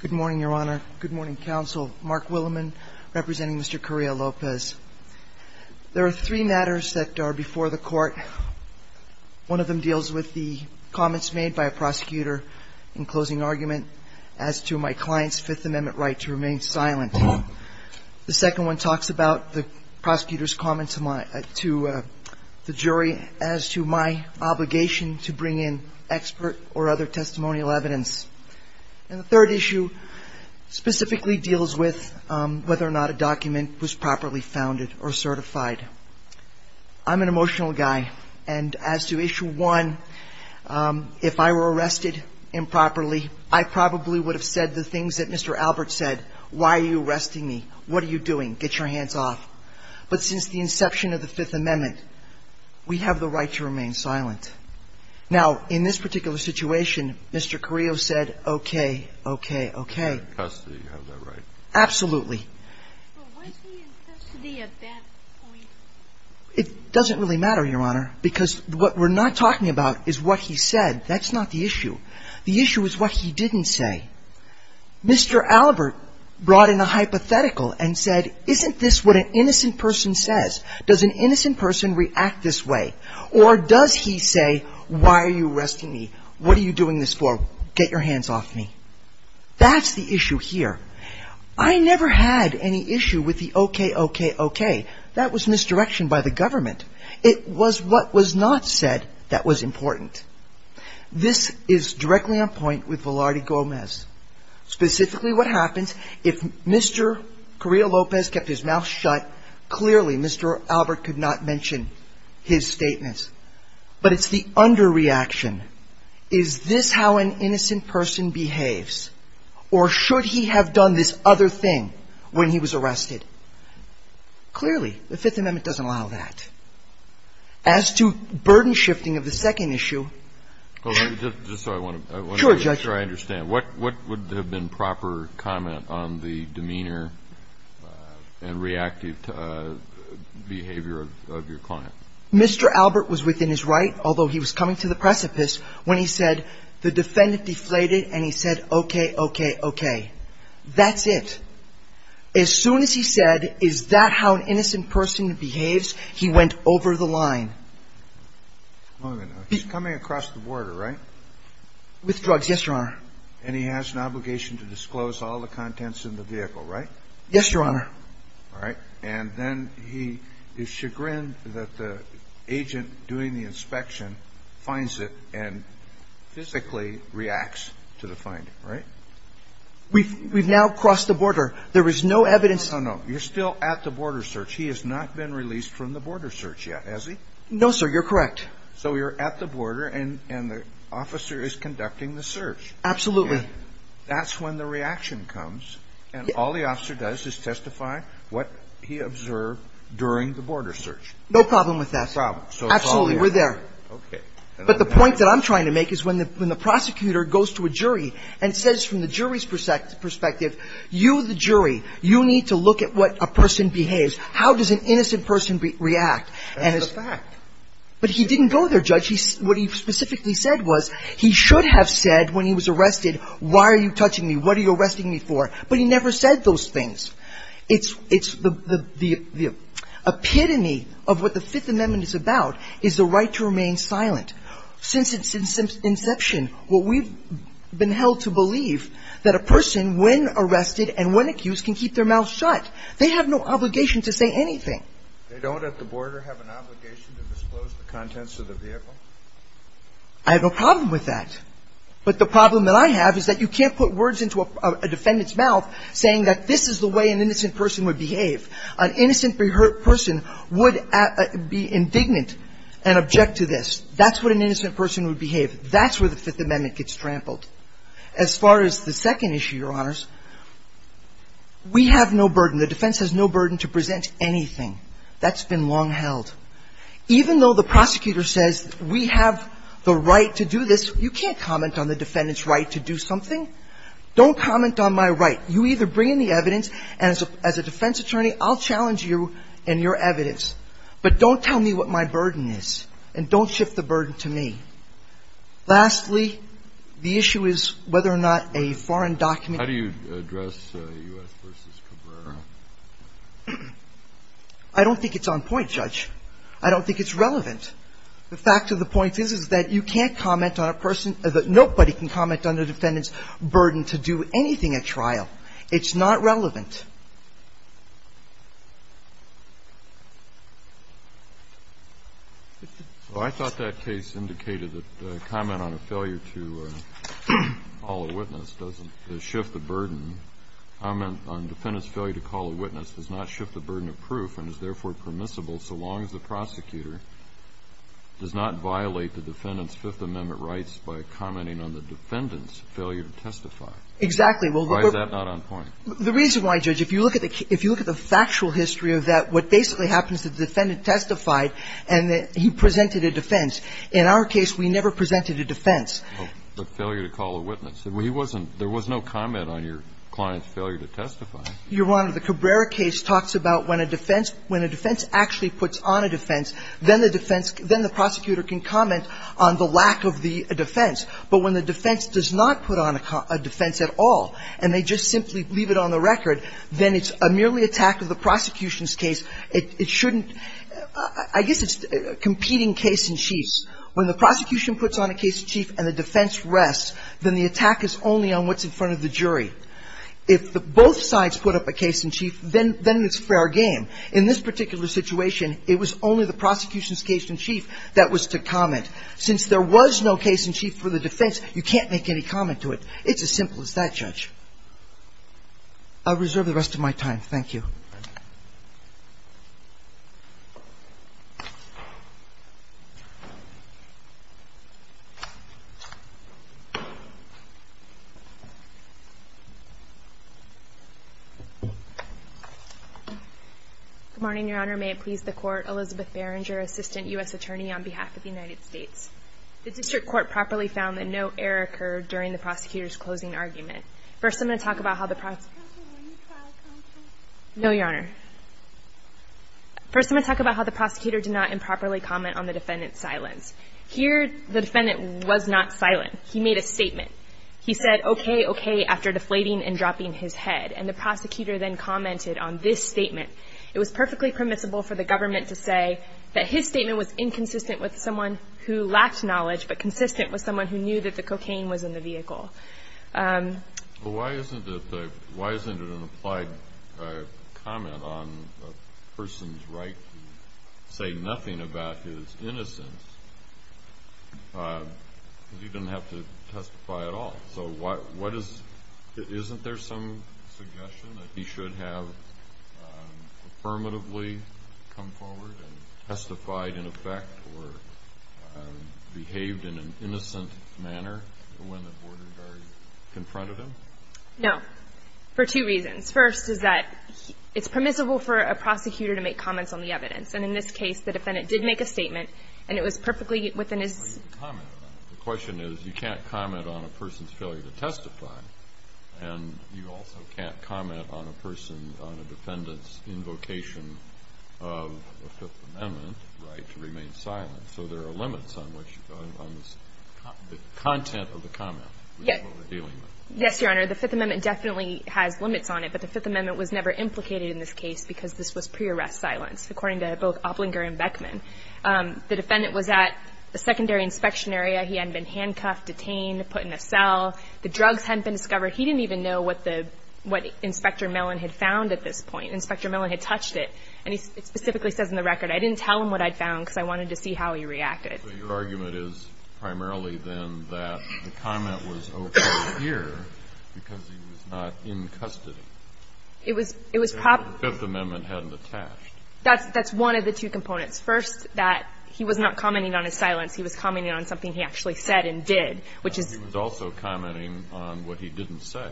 Good morning, Your Honor. Good morning, Counsel. Mark Williman, representing Mr. Carrillo-Lopez. There are three matters that are before the Court. One of them deals with the comments made by a prosecutor in closing argument as to my client's Fifth Amendment right to remain silent. The second one talks about the prosecutor's comments to the jury as to my obligation to remain silent. And the third issue specifically deals with whether or not a document was properly founded or certified. I'm an emotional guy, and as to issue one, if I were arrested improperly, I probably would have said the things that Mr. Albert said. Why are you arresting me? What are you doing? Get your hands off. But since the inception of the Fifth Amendment, we have the right to remain silent. Now, in this particular situation, Mr. Carrillo said, okay, okay, okay. In custody, you have that right. Absolutely. But was he in custody at that point? It doesn't really matter, Your Honor, because what we're not talking about is what he said. That's not the issue. The issue is what he didn't say. Mr. Albert brought in a hypothetical and said, isn't this what an innocent person says? Does an innocent person react this way? Or does he say, why are you arresting me? What are you doing this for? Get your hands off me. That's the issue here. I never had any issue with the okay, okay, okay. That was misdirection by the government. It was what was not said that was important. This is directly on point with Velarde Gomez. Specifically what happens if Mr. Carrillo Lopez kept his mouth shut, clearly Mr. Albert could not mention his statements. But it's the underreaction. Is this how an innocent person behaves? Or should he have done this other thing when he was arrested? Clearly, the Fifth Amendment doesn't allow that. As to burden shifting of the second issue... Well, just so I understand, what would have been proper comment on the demeanor and reactive behavior of your client? Mr. Albert was within his right, although he was coming to the precipice, when he said the defendant deflated and he said, okay, okay, okay. That's it. As soon as he said, is that how an innocent person behaves, he went over the line. He's coming across the border, right? With drugs, yes, Your Honor. And he has an obligation to disclose all the contents in the vehicle, right? Yes, Your Honor. All right. And then he is chagrined that the agent doing the inspection finds it and physically reacts to the finding, right? We've now crossed the border. There is no evidence... No, no. You're still at the border search. He has not been released from the border search yet, has he? No, sir. You're correct. So you're at the border and the officer is conducting the search. Absolutely. That's when the reaction comes, and all the officer does is testify what he observed during the border search. No problem with that. No problem. So it's all there. Absolutely. We're there. Okay. But the point that I'm trying to make is when the prosecutor goes to a jury and says from the jury's perspective, you, the jury, you need to look at what a person behaves. How does an innocent person react? That's the fact. But he didn't go there, Judge. What he specifically said was he should have said when he was arrested, why are you touching me? What are you arresting me for? But he never said those things. It's the epitome of what the Fifth Amendment is about is the right to remain silent. Since its inception, what we've been held to believe that a person, when arrested and when accused, can keep their mouth shut. They have no obligation to say anything. They don't at the border have an obligation to disclose the contents of the vehicle? I have no problem with that. But the problem that I have is that you can't put words into a defendant's mouth saying that this is the way an innocent person would behave. An innocent person would be indignant and object to this. That's what an innocent person would behave. That's where the Fifth Amendment gets trampled. As far as the second issue, Your Honors, we have no burden, the defense has no burden to present anything. That's been long held. Even though the prosecutor says we have the right to do this, you can't comment on the defendant's right to do something. Don't comment on my right. You either bring in the evidence, and as a defense attorney, I'll challenge you and your evidence. But don't tell me what my burden is. And don't shift the burden to me. Lastly, the issue is whether or not a foreign document can be used. Kennedy. How do you address U.S. v. Cabrera? I don't think it's on point, Judge. I don't think it's relevant. The fact of the point is, is that you can't comment on a person, that nobody can comment on the defendant's burden to do anything at trial. It's not relevant. Well, I thought that case indicated that comment on a failure to call a witness doesn't shift the burden. Comment on defendant's failure to call a witness does not shift the burden of proof and is therefore permissible so long as the prosecutor does not violate the defendant's failure to testify. Exactly. Why is that not on point? The reason why, Judge, if you look at the factual history of that, what basically happens is the defendant testified and he presented a defense. In our case, we never presented a defense. But failure to call a witness. There was no comment on your client's failure to testify. Your Honor, the Cabrera case talks about when a defense actually puts on a defense, then the defense — then the prosecutor can comment on the lack of the defense. But when the defense does not put on a defense at all, and they just simply leave it on the record, then it's a merely attack of the prosecution's case. It shouldn't — I guess it's competing case-in-chiefs. When the prosecution puts on a case-in-chief and the defense rests, then the attack is only on what's in front of the jury. If both sides put up a case-in-chief, then it's fair game. In this particular situation, it was only the prosecution's case-in-chief that was to comment. Since there was no case-in-chief for the defense, you can't make any comment to it. It's as simple as that, Judge. I'll reserve the rest of my time. Thank you. Good morning, Your Honor. May it please the Court, Elizabeth Barringer, Assistant U.S. Attorney on behalf of the United States. The District Court properly found that no error occurred during the prosecutor's closing argument. First, I'm going to talk about how the prosecutor did not improperly comment on the defendant's silence. Here, the defendant was not silent. He made a statement. He said, okay, okay, after deflating and dropping his head. And the prosecutor then commented on this statement. It was perfectly permissible for the government to say that his statement was inconsistent with someone who lacked knowledge but consistent with someone who knew that the cocaine was in the vehicle. Why isn't it an applied comment on a person's right to say nothing about his innocence? He didn't have to testify at all. So isn't there some suggestion that he should have affirmatively come forward and testified in effect or behaved in an innocent manner when the border guard confronted him? No, for two reasons. First is that it's permissible for a prosecutor to make comments on the evidence. And in this case, the defendant did make a statement, and it was perfectly within his ---- The question is, you can't comment on a person's failure to testify, and you also can't comment on a person, on a defendant's invocation of the Fifth Amendment right to remain silent. So there are limits on which, on the content of the comment. Yes, Your Honor. The Fifth Amendment definitely has limits on it, but the Fifth Amendment was never implicated in this case because this was pre-arrest silence, according to both Oblinger and Beckman. The defendant was at the secondary inspection area. He had been handcuffed, detained, put in a cell. The drugs hadn't been discovered. He didn't even know what the ---- what Inspector Mellon had found at this point. Inspector Mellon had touched it. And he specifically says in the record, I didn't tell him what I'd found because I wanted to see how he reacted. So your argument is primarily then that the comment was okay here because he was not in custody. It was probably ---- The Fifth Amendment hadn't attached. That's one of the two components. First, that he was not commenting on his silence. He was commenting on something he actually said and did, which is ---- But he was also commenting on what he didn't say.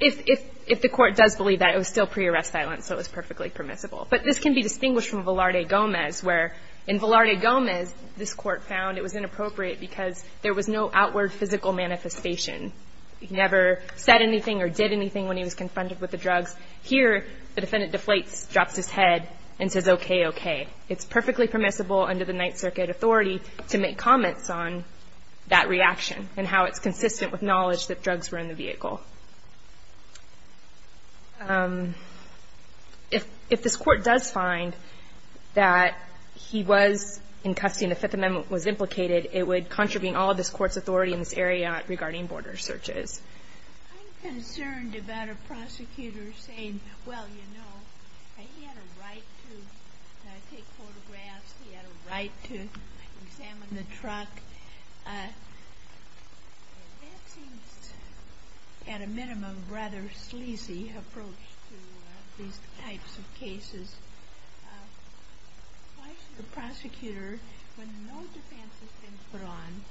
If the Court does believe that, it was still pre-arrest silence, so it was perfectly permissible. But this can be distinguished from Velarde-Gomez, where in Velarde-Gomez, this Court found it was inappropriate because there was no outward physical manifestation. He never said anything or did anything when he was confronted with the drugs. Here, the defendant deflates, drops his head, and says, okay, okay. It's perfectly permissible under the Ninth Circuit authority to make comments on that reaction and how it's consistent with knowledge that drugs were in the vehicle. If this Court does find that he was in custody and the Fifth Amendment was implicated, it would contravene all of this Court's authority in this area regarding border searches. I'm concerned about a prosecutor saying, well, you know, he had a right to take photographs, he had a right to examine the truck. That seems, at a minimum, a rather sleazy approach to these types of cases. Why should a prosecutor, when no defense has been put on,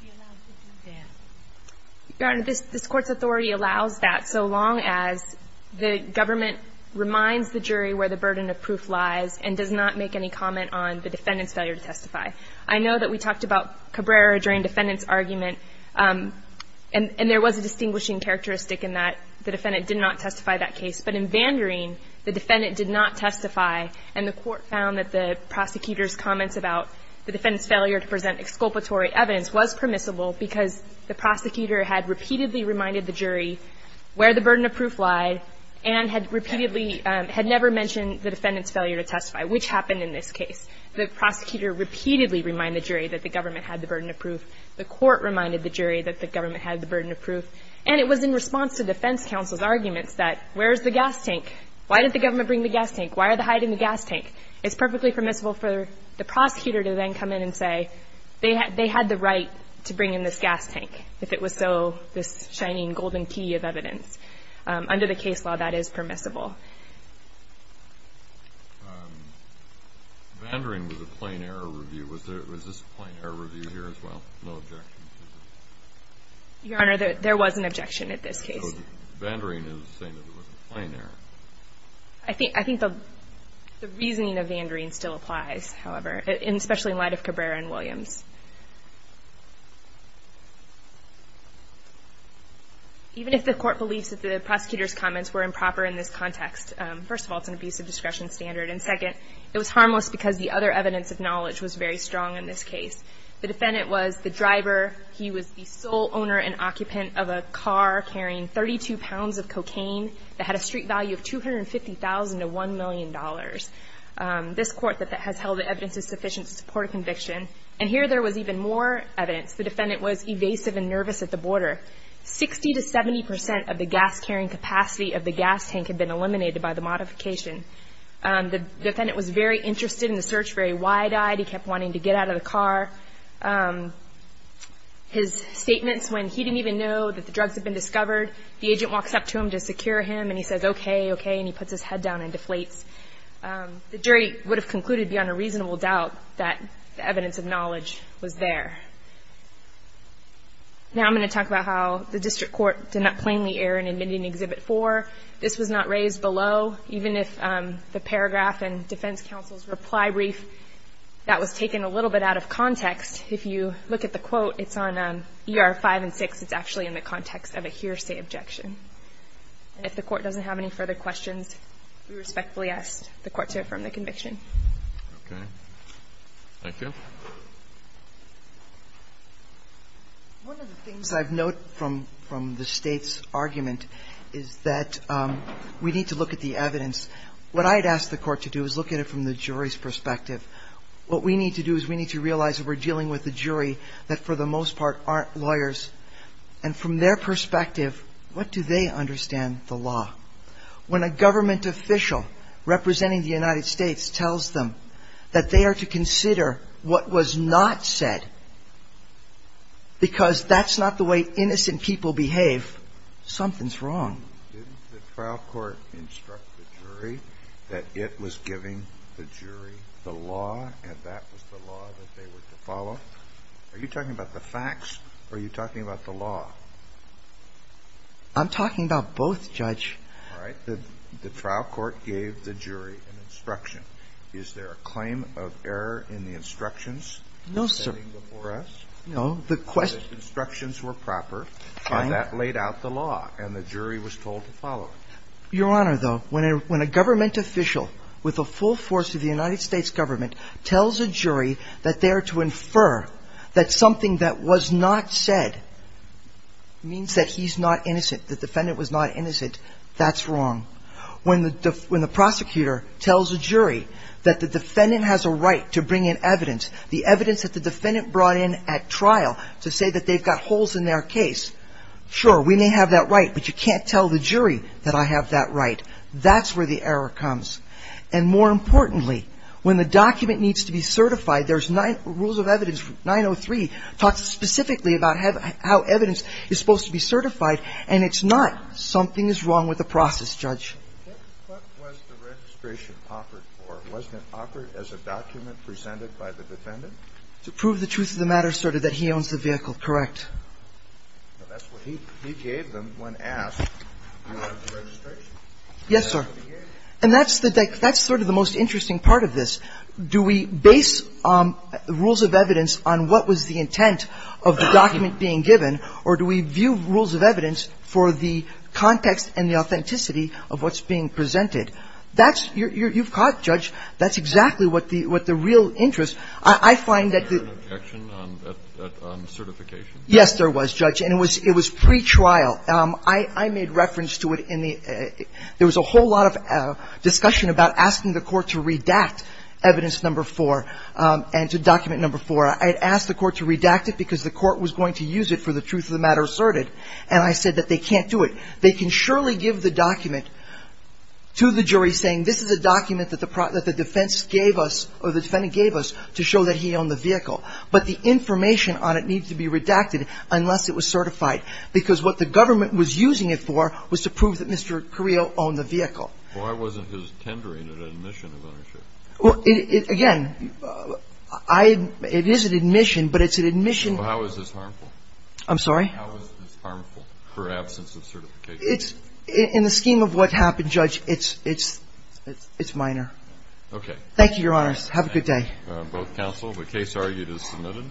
be allowed to do that? Your Honor, this Court's authority allows that so long as the government reminds the jury where the burden of proof lies and does not make any comment on the defendant's failure to testify. I know that we talked about Cabrera during defendant's argument, and there was a distinguishing characteristic in that the defendant did not testify that case. But in Vanderine, the defendant did not testify, and the Court found that the prosecutor's comments about the defendant's failure to present exculpatory evidence was permissible because the prosecutor had repeatedly reminded the jury where the burden of proof lied and had never mentioned the defendant's failure to testify, which happened in this case. The prosecutor repeatedly reminded the jury that the government had the burden of proof. The Court reminded the jury that the government had the burden of proof. And it was in response to defense counsel's arguments that where is the gas tank? Why did the government bring the gas tank? Why are they hiding the gas tank? It's perfectly permissible for the prosecutor to then come in and say they had the right to bring in this gas tank if it was so this shining golden key of evidence. Under the case law, that is permissible. Vanderine was a plain error review. Was this a plain error review here as well? No objections? Your Honor, there was an objection at this case. So Vanderine is saying that it was a plain error? I think the reasoning of Vanderine still applies, however, especially in light of Cabrera and Williams. Even if the Court believes that the prosecutor's comments were improper in this context, first of all, it's an abusive discretion standard, and second, it was harmless because the other evidence of knowledge was very strong in this case. The defendant was the driver. He was the sole owner and occupant of a car carrying 32 pounds of cocaine that had a street value of $250,000 to $1 million. This Court has held that evidence is sufficient to support a conviction. And here there was even more evidence. The defendant was evasive and nervous at the border. Sixty to 70 percent of the gas carrying capacity of the gas tank had been eliminated by the modification. The defendant was very interested in the search, very wide-eyed. He kept wanting to get out of the car. His statements when he didn't even know that the drugs had been discovered, the agent walks up to him to secure him, and he says, okay, okay, and he puts his head down and deflates. The jury would have concluded beyond a reasonable doubt that the evidence of knowledge was there. Now I'm going to talk about how the District Court did not plainly err in admitting Exhibit 4. This was not raised below, even if the paragraph in Defense Counsel's reply brief that was taken a little bit out of context. If you look at the quote, it's on ER 5 and 6. It's actually in the context of a hearsay objection. And if the Court doesn't have any further questions, we respectfully ask the Court to affirm the conviction. Okay. Thank you. One of the things I've noted from the State's argument is that we need to look at the evidence. What I'd ask the Court to do is look at it from the jury's perspective. What we need to do is we need to realize that we're dealing with a jury that, for the most part, aren't lawyers. And from their perspective, what do they understand the law? When a government official representing the United States tells them that they are to consider what was not said because that's not the way innocent people behave, something's wrong. Didn't the trial court instruct the jury that it was giving the jury the law and that was the law that they were to follow? Are you talking about the facts? Are you talking about the law? I'm talking about both, Judge. All right. The trial court gave the jury an instruction. Is there a claim of error in the instructions? No, sir. No. The instructions were proper. Fine. And that laid out the law. And the jury was told to follow it. Your Honor, though, when a government official with a full force of the United States government tells a jury that they are to infer that something that was not said means that he's not innocent, the defendant was not innocent, that's wrong. When the prosecutor tells a jury that the defendant has a right to bring in evidence, the evidence that the defendant brought in at trial to say that they've got holes in their case, sure, we may have that right, but you can't tell the jury that I have that right. That's where the error comes. And more importantly, when the document needs to be certified, there's nine rules of evidence, 903, talks specifically about how evidence is supposed to be certified, and it's not something is wrong with the process, Judge. What was the registration offered for? Wasn't it offered as a document presented by the defendant? To prove the truth of the matter asserted that he owns the vehicle. Correct. That's what he gave them when asked if he wanted the registration. Yes, sir. And that's sort of the most interesting part of this. Do we base rules of evidence on what was the intent of the document being given, or do we view rules of evidence for the context and the authenticity of what's being presented? That's you've caught, Judge, that's exactly what the real interest. I find that the ---- Was there an objection on certification? Yes, there was, Judge, and it was pretrial. I made reference to it in the ---- There was a whole lot of discussion about asking the court to redact evidence number four and to document number four. I had asked the court to redact it because the court was going to use it for the truth of the matter asserted, and I said that they can't do it. They can surely give the document to the jury saying this is a document that the defense gave us or the defendant gave us to show that he owned the vehicle, but the information on it needs to be redacted unless it was certified, because what the government was using it for was to prove that Mr. Carrillo owned the vehicle. Well, why wasn't his tendering an admission of ownership? Well, again, it is an admission, but it's an admission ---- Well, how is this harmful? I'm sorry? How is this harmful for absence of certification? In the scheme of what happened, Judge, it's minor. Okay. Thank you, Your Honors. Have a good day. Thank you, both counsel. The case argued is submitted.